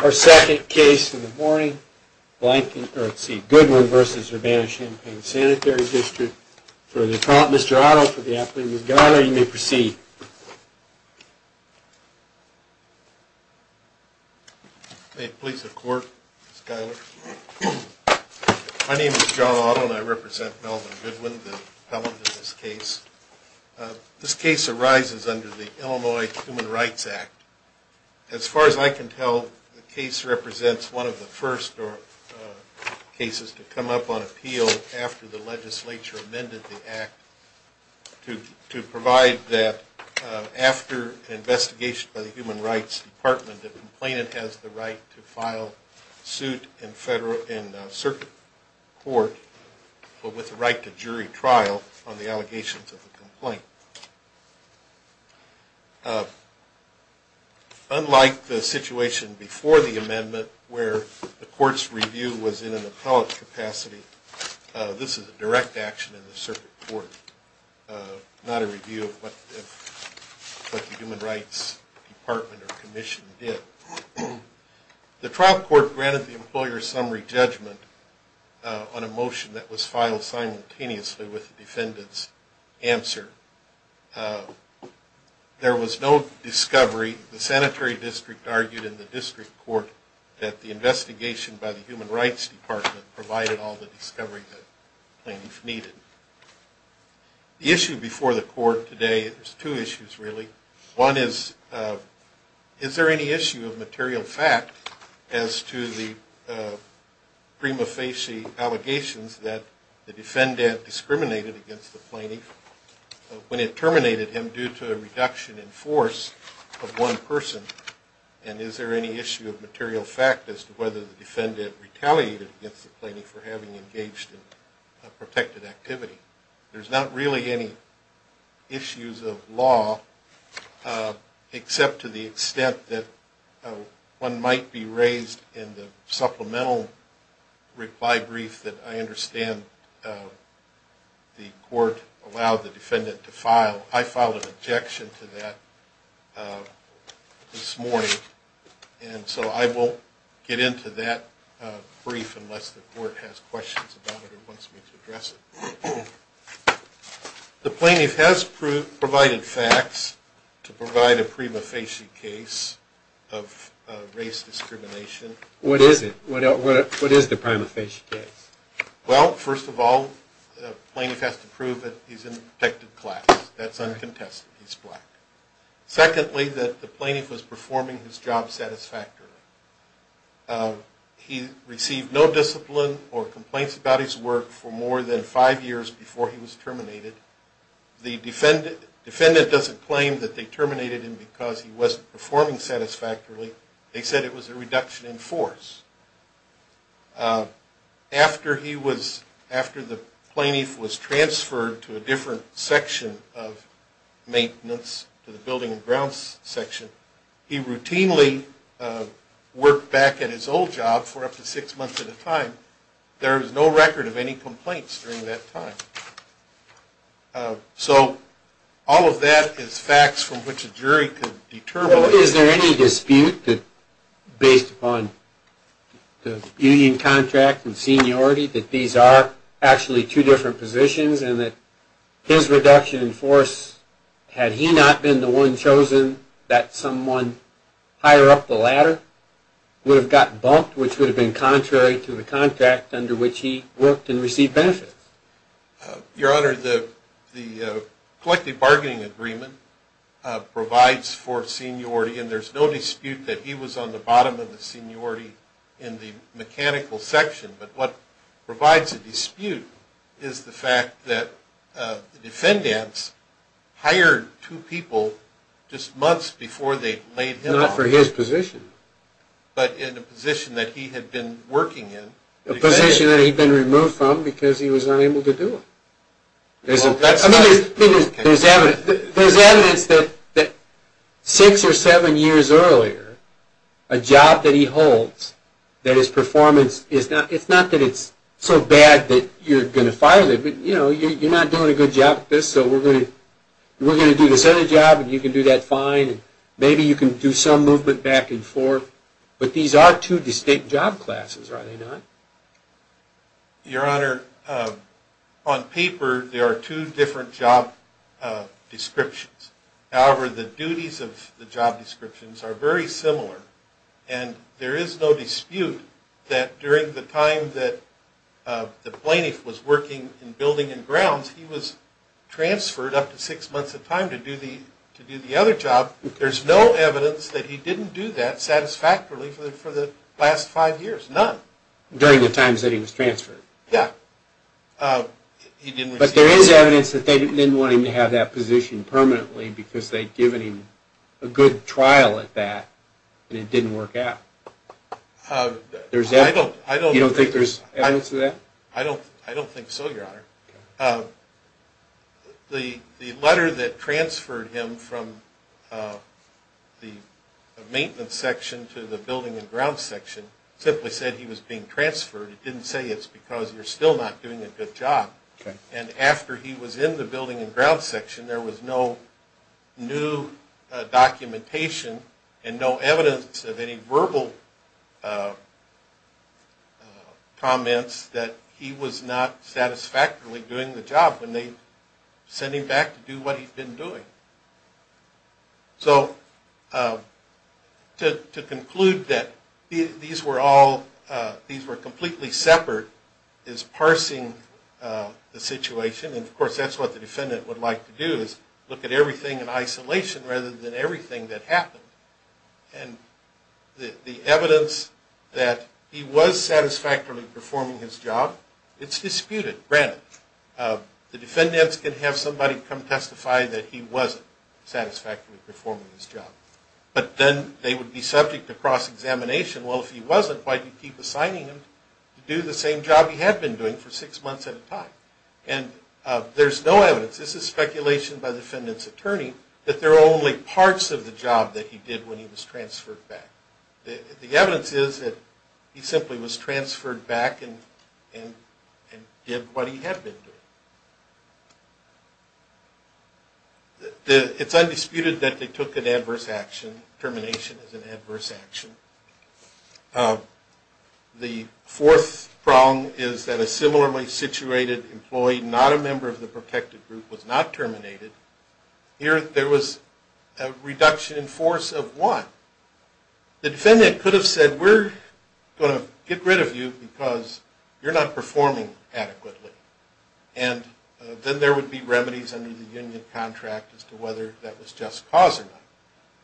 Our second case in the morning, Goodwin v. Urbana-Champaign Sanitary District. Mr. Otto, for the afternoon. Mr. Giler, you may proceed. May it please the Court, Mr. Giler. My name is John Otto, and I represent Melvin Goodwin, the appellant in this case. This case arises under the Illinois Human Rights Act. As far as I can tell, the case represents one of the first cases to come up on appeal after the legislature amended the Act to provide that after an investigation by the Human Rights Department, the complainant has the right to file suit in circuit court with the right to jury trial on the allegations of the complaint. Unlike the situation before the amendment where the Court's review was in an appellate capacity, this is a direct action in the circuit court, not a review of what the Human Rights Department or Commission did. The trial court granted the employer summary judgment on a motion that was filed simultaneously with the defendant's answer. There was no discovery. The sanitary district argued in the district court that the investigation by the Human Rights Department provided all the discovery that the plaintiff needed. The issue before the Court today, there's two issues really. One is, is there any issue of material fact as to the prima facie allegations that the defendant discriminated against the plaintiff when it terminated him due to a reduction in force of one person? And is there any issue of material fact as to whether the defendant retaliated against the plaintiff for having engaged in a protected activity? There's not really any issues of law except to the extent that one might be raised in the supplemental reply brief that I understand the Court allowed the defendant to file. I filed an objection to that this morning, and so I won't get into that brief unless the Court has questions about it or wants me to address it. The plaintiff has provided facts to provide a prima facie case of race discrimination. What is it? What is the prima facie case? Well, first of all, the plaintiff has to prove that he's in a protected class. That's uncontested. He's black. Secondly, that the plaintiff was performing his job satisfactorily. He received no discipline or complaints about his work for more than five years before he was terminated. The defendant doesn't claim that they terminated him because he wasn't performing satisfactorily. They said it was a reduction in force. After the plaintiff was transferred to a different section of maintenance, to the building and grounds section, he routinely worked back at his old job for up to six months at a time. There was no record of any complaints during that time. So all of that is facts from which a jury could determine... Is there any dispute based upon the union contract and seniority that these are actually two different positions and that his reduction in force, had he not been the one chosen, that someone higher up the ladder would have gotten bumped, which would have been contrary to the contract under which he worked and received benefits? Your Honor, the collective bargaining agreement provides for seniority and there's no dispute that he was on the bottom of the seniority in the mechanical section. But what provides a dispute is the fact that the defendants hired two people just months before they laid him off. Not for his position. But in a position that he had been working in. A position that he'd been removed from because he was unable to do it. There's evidence that six or seven years earlier, a job that he holds, that his performance is not... It's not that it's so bad that you're going to fire them, but you know, you're not doing a good job at this, so we're going to do this other job and you can do that fine. Maybe you can do some movement back and forth, but these are two distinct job classes, are they not? Your Honor, on paper, there are two different job descriptions. However, the duties of the job descriptions are very similar. And there is no dispute that during the time that the plaintiff was working in building and grounds, he was transferred up to six months of time to do the other job. There's no evidence that he didn't do that satisfactorily for the last five years. None. During the times that he was transferred? Yeah. But there is evidence that they didn't want him to have that position permanently because they'd given him a good trial at that and it didn't work out. I don't... You don't think there's evidence to that? I don't think so, Your Honor. The letter that transferred him from the maintenance section to the building and grounds section simply said he was being transferred. It didn't say it's because you're still not doing a good job. And after he was in the building and grounds section, there was no new documentation and no evidence of any verbal comments that he was not satisfactorily doing the job when they sent him back to do what he'd been doing. So, to conclude that these were all... these were completely separate is parsing the situation. And of course, that's what the defendant would like to do is look at everything in isolation rather than everything that happened. And the evidence that he was satisfactorily performing his job, it's disputed, granted. The defendants can have somebody come testify that he wasn't satisfactorily performing his job. But then they would be subject to cross-examination. Well, if he wasn't, why do you keep assigning him to do the same job he had been doing for six months at a time? And there's no evidence. This is speculation by the defendant's attorney that there are only parts of the job that he did when he was transferred back. The evidence is that he simply was transferred back and did what he had been doing. It's undisputed that they took an adverse action. Termination is an adverse action. The fourth prong is that a similarly situated employee, not a member of the protected group, was not terminated. Here, there was a reduction in force of one. The defendant could have said, we're going to get rid of you because you're not performing adequately. And then there would be remedies under the union contract as to whether that was just cause or not.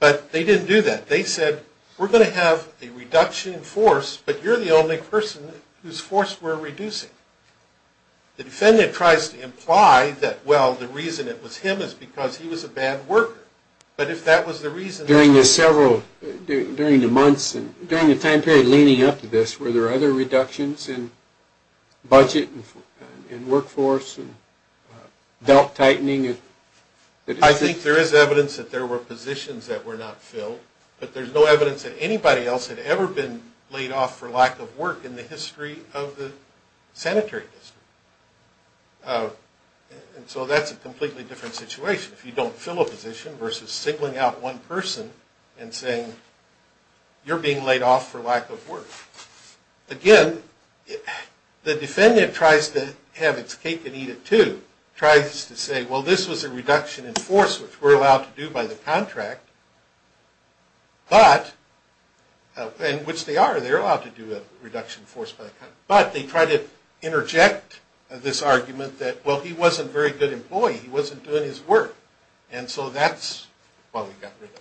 But they didn't do that. They said, we're going to have a reduction in force, but you're the only person whose force we're reducing. The defendant tries to imply that, well, the reason it was him is because he was a bad worker. But if that was the reason. During the several, during the months and during the time period leading up to this, were there other reductions in budget and workforce and belt tightening? I think there is evidence that there were positions that were not filled. But there's no evidence that anybody else had ever been laid off for lack of work in the history of the sanitary district. And so that's a completely different situation. If you don't fill a position versus singling out one person and saying, you're being laid off for lack of work. Again, the defendant tries to have its cake and eat it too. Tries to say, well, this was a reduction in force, which we're allowed to do by the contract. But, and which they are. They're allowed to do a reduction in force by the contract. But they try to interject this argument that, well, he wasn't a very good employee. He wasn't doing his work. And so that's why we got rid of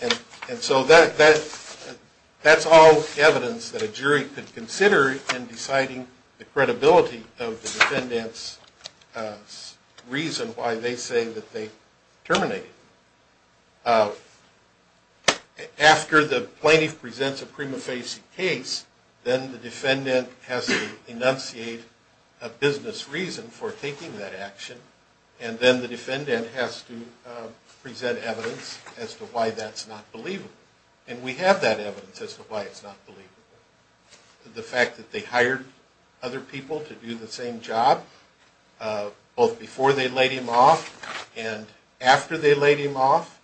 him. And so that's all evidence that a jury could consider in deciding the credibility of the defendant's reason why they say that they terminated him. After the plaintiff presents a prima facie case, then the defendant has to enunciate a business reason for taking that action. And then the defendant has to present evidence as to why that's not believable. And we have that evidence as to why it's not believable. The fact that they hired other people to do the same job, both before they laid him off and after they laid him off.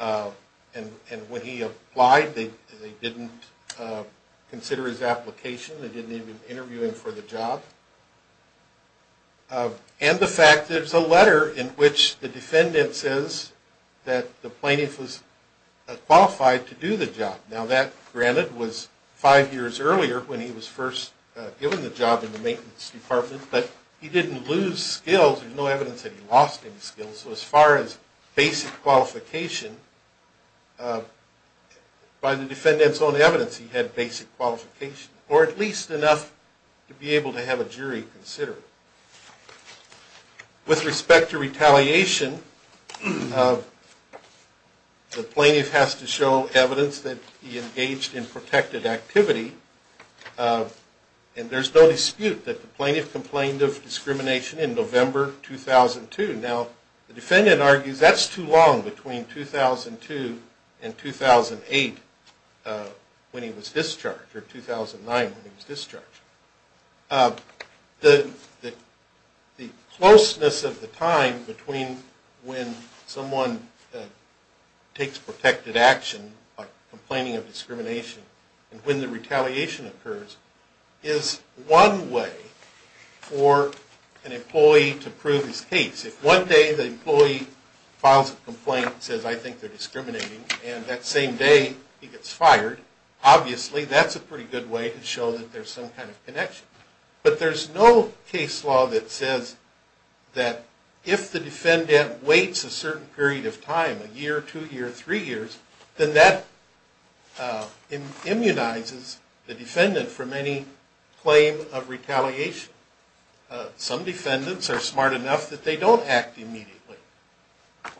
And when he applied, they didn't consider his application. They didn't even interview him for the job. And the fact there's a letter in which the defendant says that the plaintiff was qualified to do the job. Now that, granted, was five years earlier when he was first given the job in the maintenance department. But he didn't lose skills. There's no evidence that he lost any skills. So as far as basic qualification, by the defendant's own evidence, he had basic qualification. Or at least enough to be able to have a jury consider it. With respect to retaliation, the plaintiff has to show evidence that he engaged in protected activity. And there's no dispute that the plaintiff complained of discrimination in November 2002. Now, the defendant argues that's too long between 2002 and 2008 when he was discharged. Or 2009 when he was discharged. The closeness of the time between when someone takes protected action by complaining of discrimination and when the retaliation occurs is one way for an employee to prove his case. If one day the employee files a complaint and says, I think they're discriminating, and that same day he gets fired, obviously that's a pretty good way to show that there's some kind of connection. But there's no case law that says that if the defendant waits a certain period of time, a year, two years, three years, then that immunizes the defendant from any claim of retaliation. Some defendants are smart enough that they don't act immediately.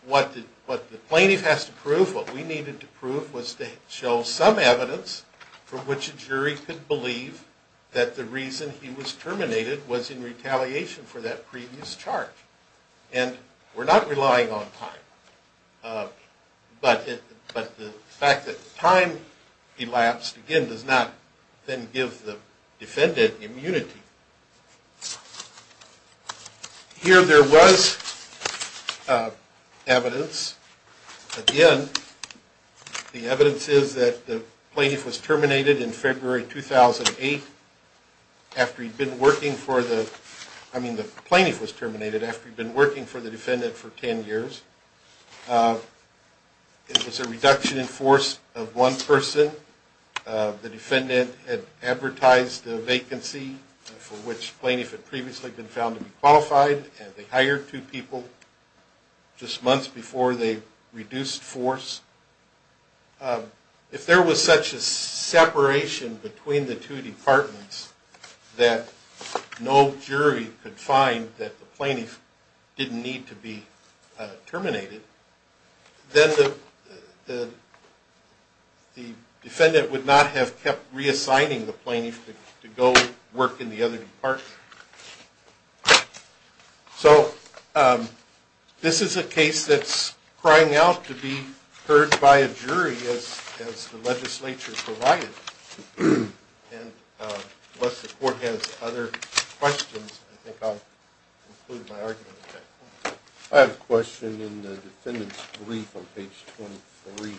What the plaintiff has to prove, what we needed to prove, was to show some evidence for which a jury could believe that the reason he was terminated was in retaliation for that previous charge. And we're not relying on time. But the fact that time elapsed, again, does not then give the defendant immunity. Here there was evidence. Again, the evidence is that the plaintiff was terminated in February 2008 after he'd been working for the, I mean the plaintiff was terminated after he'd been working for the defendant for ten years. It was a reduction in force of one person. The defendant had advertised a vacancy for which the plaintiff had previously been found to be qualified, and they hired two people just months before they reduced force. If there was such a separation between the two departments that no jury could find that the plaintiff didn't need to be terminated, then the defendant would not have kept reassigning the plaintiff to go work in the other department. So this is a case that's crying out to be heard by a jury as the legislature provided. And unless the court has other questions, I think I'll conclude my argument at that point. I have a question in the defendant's brief on page 23.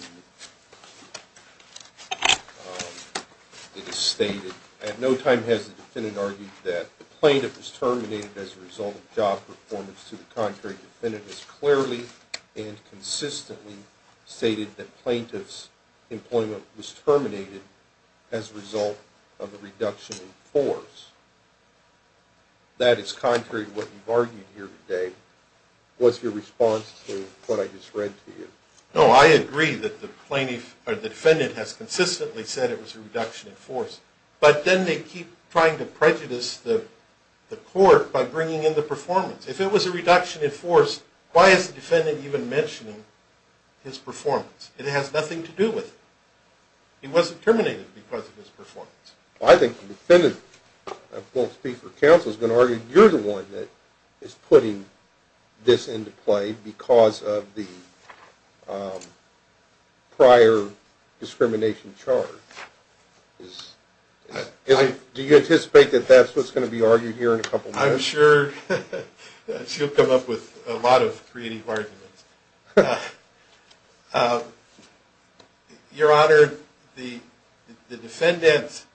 It is stated, at no time has the defendant argued that the plaintiff was terminated as a result of job performance. To the contrary, the defendant has clearly and consistently stated that plaintiff's employment was terminated as a result of a reduction in force. That is contrary to what you've argued here today. What's your response to what I just read to you? No, I agree that the defendant has consistently said it was a reduction in force, but then they keep trying to prejudice the court by bringing in the performance. If it was a reduction in force, why is the defendant even mentioning his performance? It has nothing to do with it. He wasn't terminated because of his performance. Well, I think the defendant, I won't speak for counsel, is going to argue you're the one that is putting this into play because of the prior discrimination charge. Do you anticipate that that's what's going to be argued here in a couple minutes? I'm sure she'll come up with a lot of creative arguments. Your Honor, the defendant's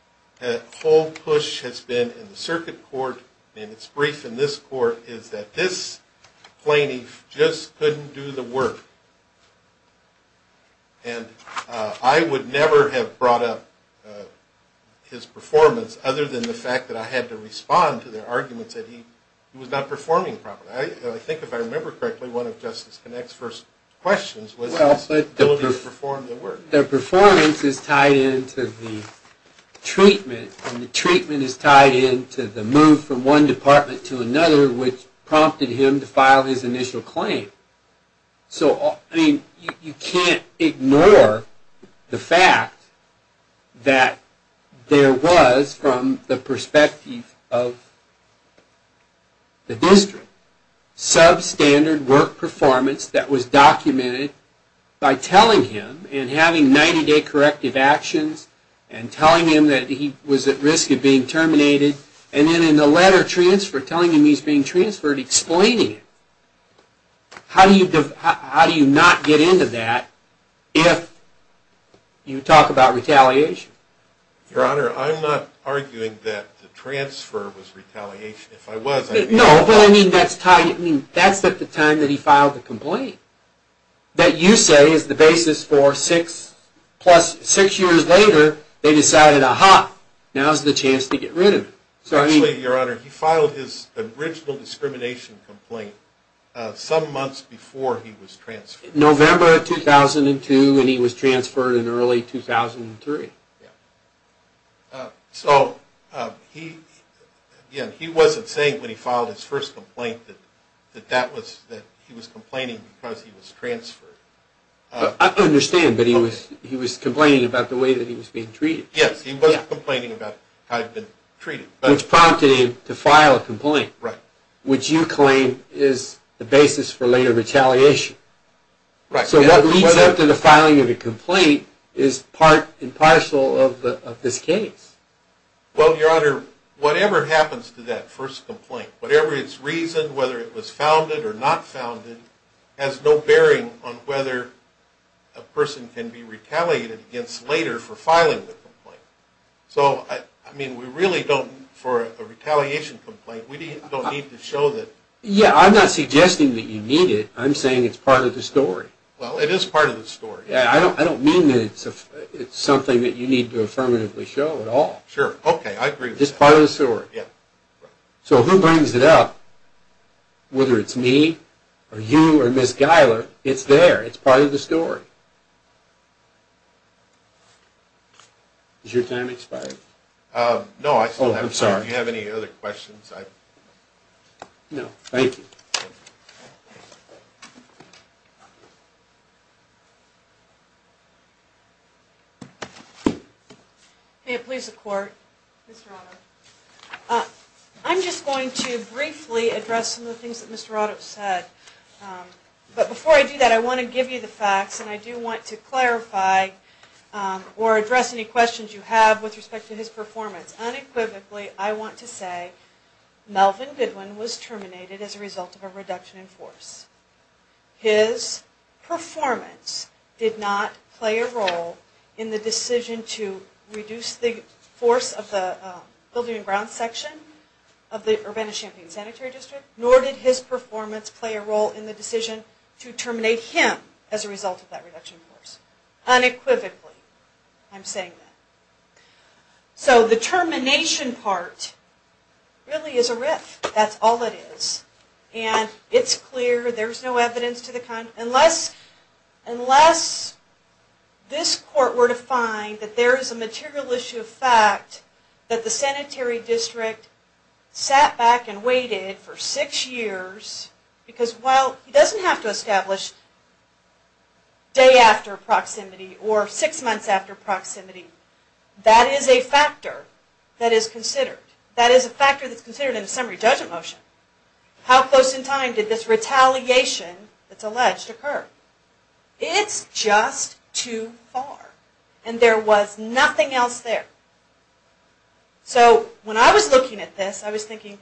whole push has been in the circuit court, and it's brief in this court, is that this plaintiff just couldn't do the work. And I would never have brought up his performance, other than the fact that I had to respond to their arguments that he was not performing properly. I think if I remember correctly, one of Justice Connick's first questions was his ability to perform the work. The performance is tied into the treatment, and the treatment is tied into the move from one department to another, which prompted him to file his initial claim. You can't ignore the fact that there was, from the perspective of the district, substandard work performance that was documented by telling him and having 90-day corrective actions, and telling him that he was at risk of being terminated, and then in the letter transfer, telling him he's being transferred, explaining it. How do you not get into that if you talk about retaliation? Your Honor, I'm not arguing that the transfer was retaliation. No, but that's at the time that he filed the complaint, that you say is the basis for six years later, they decided, aha, now's the chance to get rid of him. Actually, Your Honor, he filed his original discrimination complaint some months before he was transferred. November of 2002, and he was transferred in early 2003. So, again, he wasn't saying when he filed his first complaint that he was complaining because he was transferred. I understand, but he was complaining about the way that he was being treated. Yes, he was complaining about how he'd been treated. Which prompted him to file a complaint, which you claim is the basis for later retaliation. So what leads up to the filing of the complaint is part and parcel of this case. Well, Your Honor, whatever happens to that first complaint, whatever its reason, whether it was founded or not founded, has no bearing on whether a person can be retaliated against later for filing the complaint. So, I mean, we really don't, for a retaliation complaint, we don't need to show that. Yeah, I'm not suggesting that you need it. I'm saying it's part of the story. Well, it is part of the story. Yeah, I don't mean that it's something that you need to affirmatively show at all. Sure, okay, I agree with that. It's part of the story. Yeah. So who brings it up? Whether it's me or you or Ms. Geiler, it's there. It's part of the story. Is your time expired? No, I still have time. Oh, I'm sorry. Do you have any other questions? No. Thank you. Thank you. May it please the Court, Mr. Radov. I'm just going to briefly address some of the things that Mr. Radov said. But before I do that, I want to give you the facts, and I do want to clarify or address any questions you have with respect to his performance. Unequivocally, I want to say Melvin Goodwin was terminated as a result of a reduction in force. His performance did not play a role in the decision to reduce the force of the building and grounds section of the Urbana-Champaign Sanitary District, nor did his performance play a role in the decision to terminate him as a result of that reduction in force. Unequivocally, I'm saying that. So the termination part really is a riff. That's all it is. And it's clear, there's no evidence to the contrary. Unless this Court were to find that there is a material issue of fact that the sanitary district sat back and waited for six years, because, well, he doesn't have to establish day after proximity or six months after proximity. That is a factor that is considered. That is a factor that's considered in a summary judgment motion. How close in time did this retaliation that's alleged occur? It's just too far. And there was nothing else there. So when I was looking at this, I was thinking,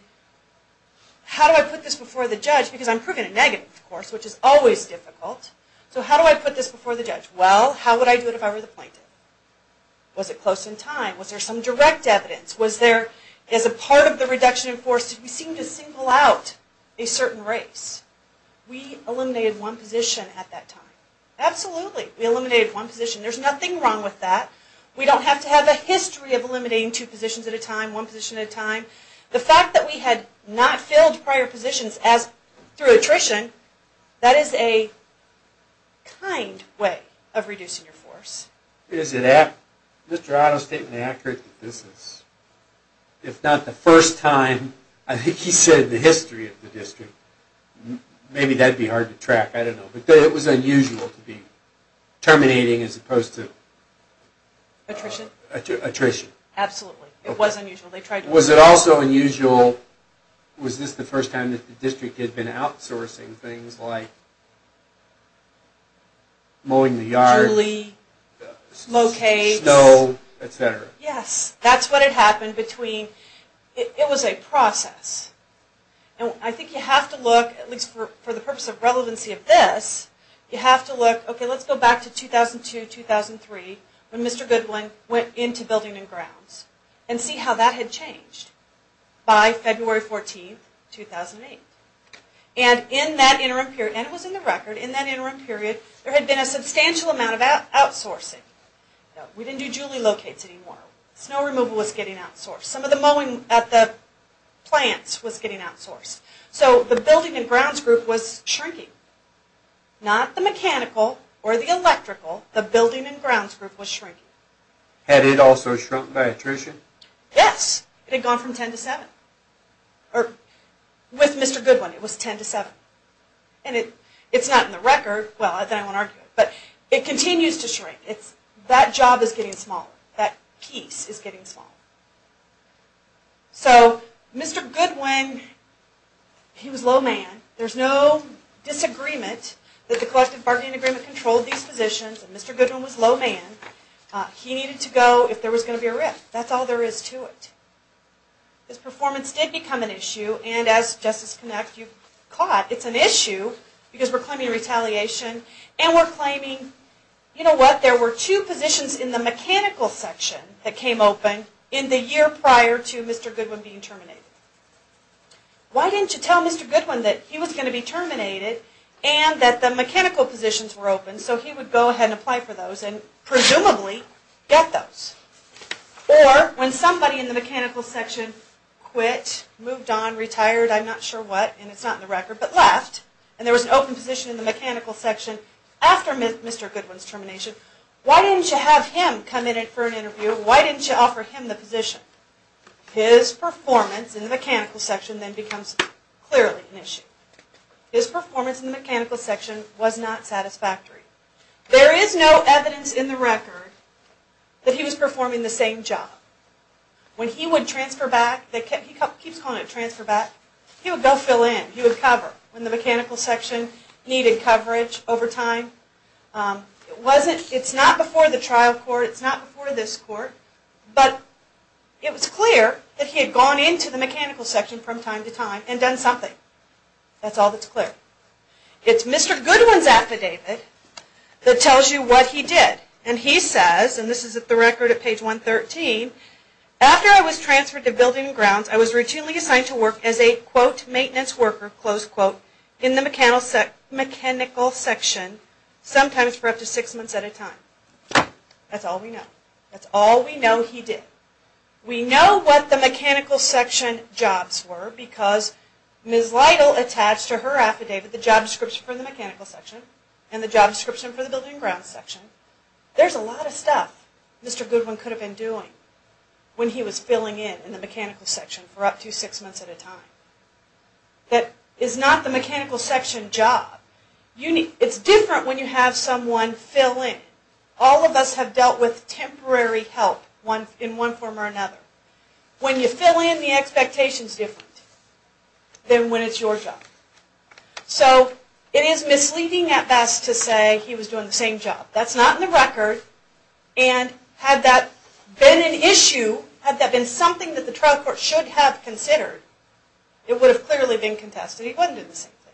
how do I put this before the judge? Because I'm proving it negative, of course, which is always difficult. So how do I put this before the judge? Well, how would I do it if I were the plaintiff? Was it close in time? Was there some direct evidence? Was there, as a part of the reduction in force, did we seem to single out a certain race? We eliminated one position at that time. Absolutely, we eliminated one position. There's nothing wrong with that. We don't have to have a history of eliminating two positions at a time, one position at a time. The fact that we had not filled prior positions through attrition, that is a kind way of reducing your force. Is Mr. Otto's statement accurate that this is, if not the first time, I think he said the history of the district. Maybe that would be hard to track. I don't know. But it was unusual to be terminating as opposed to attrition. Absolutely. It was unusual. Was it also unusual, was this the first time that the district had been outsourcing things like mowing the yard, Julie, mocage, snow, etc.? Yes. That's what had happened between, it was a process. I think you have to look, at least for the purpose of relevancy of this, you have to look, okay, let's go back to 2002-2003 when Mr. Goodwin went into building and grounds and see how that had changed by February 14, 2008. And in that interim period, and it was in the record, in that interim period there had been a substantial amount of outsourcing. We didn't do Julie locates anymore. Snow removal was getting outsourced. Some of the mowing at the plants was getting outsourced. So the building and grounds group was shrinking. Not the mechanical or the electrical, the building and grounds group was shrinking. Had it also shrunk by attrition? Yes. It had gone from 10 to 7. With Mr. Goodwin it was 10 to 7. And it's not in the record, well then I won't argue it, but it continues to shrink. That job is getting smaller. That piece is getting smaller. So Mr. Goodwin, he was a low man. There's no disagreement that the collective bargaining agreement controlled these positions and Mr. Goodwin was a low man. He needed to go if there was going to be a rip. That's all there is to it. His performance did become an issue, and as Justice Connect you've caught, it's an issue because we're claiming retaliation and we're claiming, you know what, there were two positions in the mechanical section that came open in the year prior to Mr. Goodwin being terminated. Why didn't you tell Mr. Goodwin that he was going to be terminated and that the mechanical positions were open so he would go ahead and apply for those and presumably get those? Or when somebody in the mechanical section quit, moved on, retired, I'm not sure what, and it's not in the record, but left, and there was an open position in the mechanical section after Mr. Goodwin's termination, why didn't you have him come in for an interview? Why didn't you offer him the position? His performance in the mechanical section then becomes clearly an issue. His performance in the mechanical section was not satisfactory. There is no evidence in the record that he was performing the same job. When he would transfer back, he keeps calling it transfer back, he would go fill in, he would cover when the mechanical section needed coverage over time. It's not before the trial court, it's not before this court, but it was clear that he had gone into the mechanical section from time to time and done something. That's all that's clear. It's Mr. Goodwin's affidavit that tells you what he did. And he says, and this is the record at page 113, after I was transferred to Building and Grounds, I was routinely assigned to work as a, quote, maintenance worker, close quote, in the mechanical section, sometimes for up to six months at a time. That's all we know. That's all we know he did. We know what the mechanical section jobs were because Ms. Lytle attached to her affidavit the job description for the mechanical section and the job description for the Building and Grounds section. There's a lot of stuff Mr. Goodwin could have been doing when he was filling in in the mechanical section for up to six months at a time. That is not the mechanical section job. It's different when you have someone fill in. All of us have dealt with temporary help in one form or another. When you fill in, the expectation is different than when it's your job. So it is misleading at best to say he was doing the same job. That's not in the record. And had that been an issue, had that been something that the trial court should have considered, it would have clearly been contested. He wasn't doing the same thing.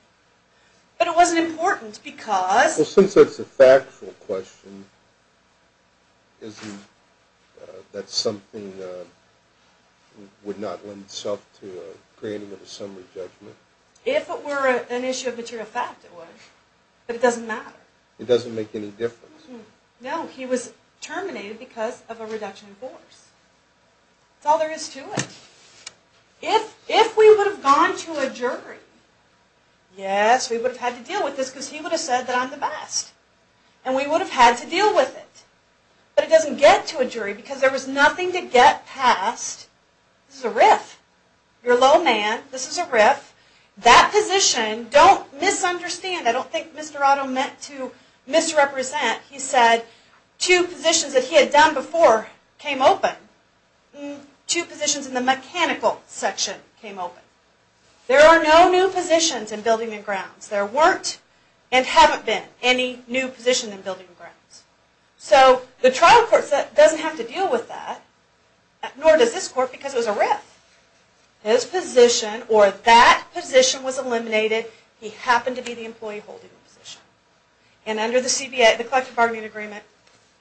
But it wasn't important because... Well, since that's a factual question, isn't that something that would not lend itself to a granting of a summary judgment? If it were an issue of material fact, it would. But it doesn't matter. It doesn't make any difference. No, he was terminated because of a reduction in force. That's all there is to it. If we would have gone to a jury, yes, we would have had to deal with this because he would have said that I'm the best. And we would have had to deal with it. But it doesn't get to a jury because there was nothing to get past. This is a riff. You're a low man. This is a riff. That position, don't misunderstand. I don't think Mr. Otto meant to misrepresent. He said two positions that he had done before came open. Two positions in the mechanical section came open. There are no new positions in building and grounds. There weren't and haven't been any new positions in building and grounds. So the trial court doesn't have to deal with that. Nor does this court because it was a riff. His position or that position was eliminated. He happened to be the employee holding the position. And under the CBA, the collective bargaining agreement,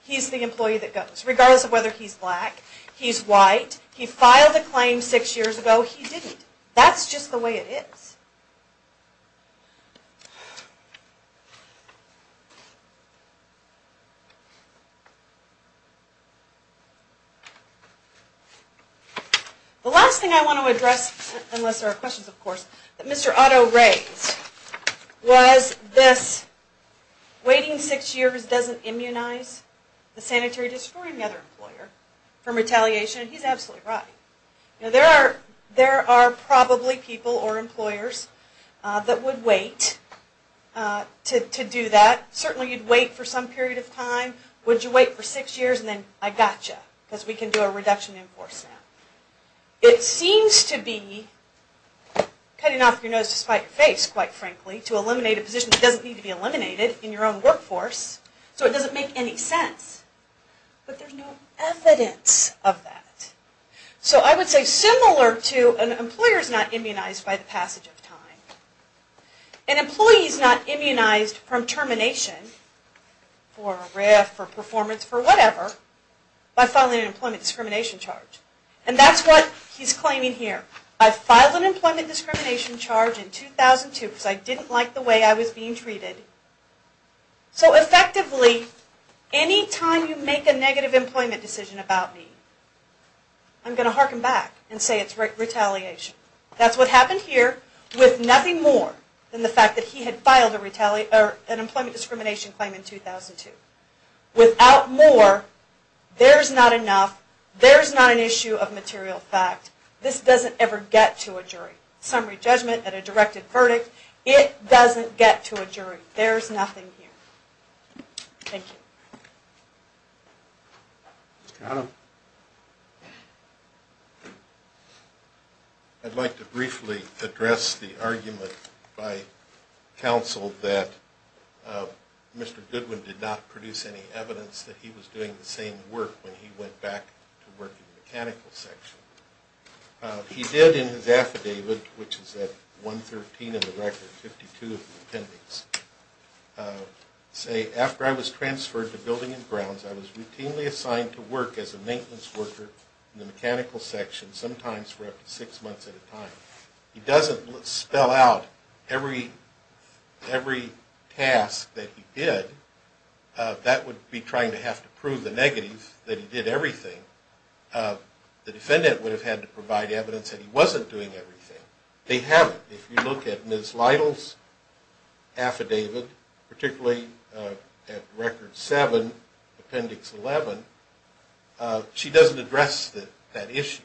he's the employee that goes, regardless of whether he's black. He's white. He filed a claim six years ago. He didn't. That's just the way it is. The last thing I want to address, unless there are questions, of course, that Mr. Otto raised was this waiting six years doesn't immunize the sanitary district or any other employer from retaliation. And he's absolutely right. who are not immune to retaliation. They're not immune to retaliation. There are employers that would wait to do that. Certainly you'd wait for some period of time. Would you wait for six years and then I gotcha because we can do a reduction in enforcement. It seems to be cutting off your nose to spite your face, quite frankly, to eliminate a position that doesn't need to be eliminated in your own workforce. So it doesn't make any sense. But there's no evidence of that. So I would say similar to an employer is not immunized by the passage of time. An employee is not immunized from termination for a RAF, for performance, for whatever by filing an employment discrimination charge. And that's what he's claiming here. I filed an employment discrimination charge in 2002 because I didn't like the way I was being treated. So effectively any time you make a negative employment decision about me, I'm going to harken back and say it's retaliation. That's what happened here with nothing more than the fact that he had filed an employment discrimination claim in 2002. Without more, there's not enough. There's not an issue of material fact. This doesn't ever get to a jury. Summary judgment at a directed verdict, it doesn't get to a jury. There's nothing here. I'd like to briefly address the argument by counsel that Mr. Goodwin did not produce any evidence that he was doing the same work when he went back to work in the mechanical section. He did in his affidavit, which is at 113 in the record, 52 of the appendix, say after I was transferred to building and grounds I was routinely assigned to work as a maintenance worker in the mechanical section, sometimes for up to 6 months at a time. He doesn't spell out every task that he did. That would be trying to have to prove the negative that he did everything. The defendant would have had to provide evidence that he wasn't doing everything. They haven't. If you look at Ms. Lytle's affidavit, particularly at record 7, appendix 11, she doesn't address that issue.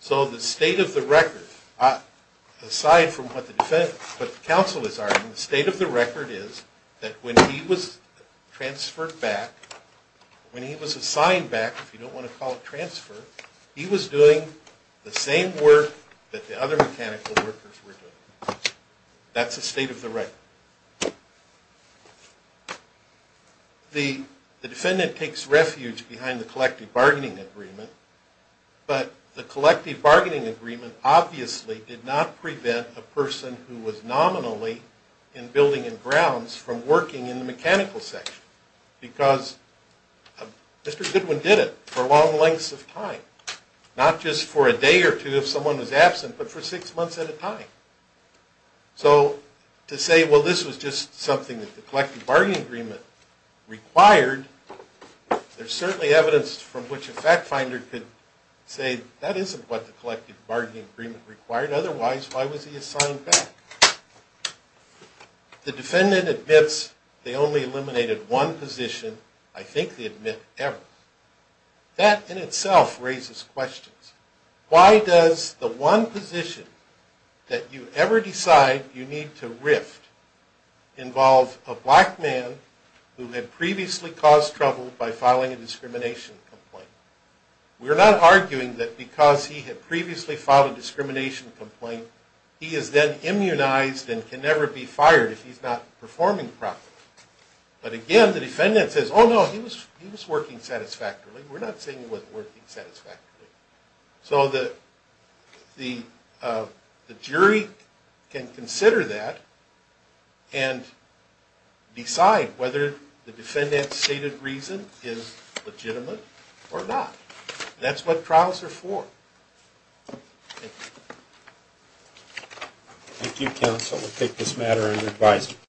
So the state of the record aside from what the defense, what the counsel is arguing, the state of the record is that when he was transferred back, when he was assigned back, if you don't want to call it transfer, he was doing the same work that the other mechanical workers were doing. That's the state of the record. The defendant takes refuge behind the collective bargaining agreement, but the collective bargaining agreement obviously did not prevent a person who was nominally in building and grounds from working in the mechanical section because Mr. Goodwin did it for long lengths of time. Not just for a day or two if someone was absent, but for six months at a time. So to say, well, this was just something that the collective bargaining agreement required, there's certainly evidence from which a fact finder could say, that isn't what the collective bargaining agreement required. Otherwise, why was he assigned back? The defendant admits they only eliminated one position, I think they admit ever. That in itself raises questions. Why does the one position that you ever decide you need to rift involve a black man who had previously caused trouble by filing a discrimination complaint? We're not arguing that because he had previously filed a discrimination complaint, he is then immunized and can never be fired if he's not performing properly. But again, the defendant says, oh no, he was working satisfactorily. We're not saying he wasn't working satisfactorily. So the jury can consider that and decide whether the defendant's stated reason is legitimate or not. That's what trials are for. Thank you. Thank you counsel. We'll take this matter under advisory.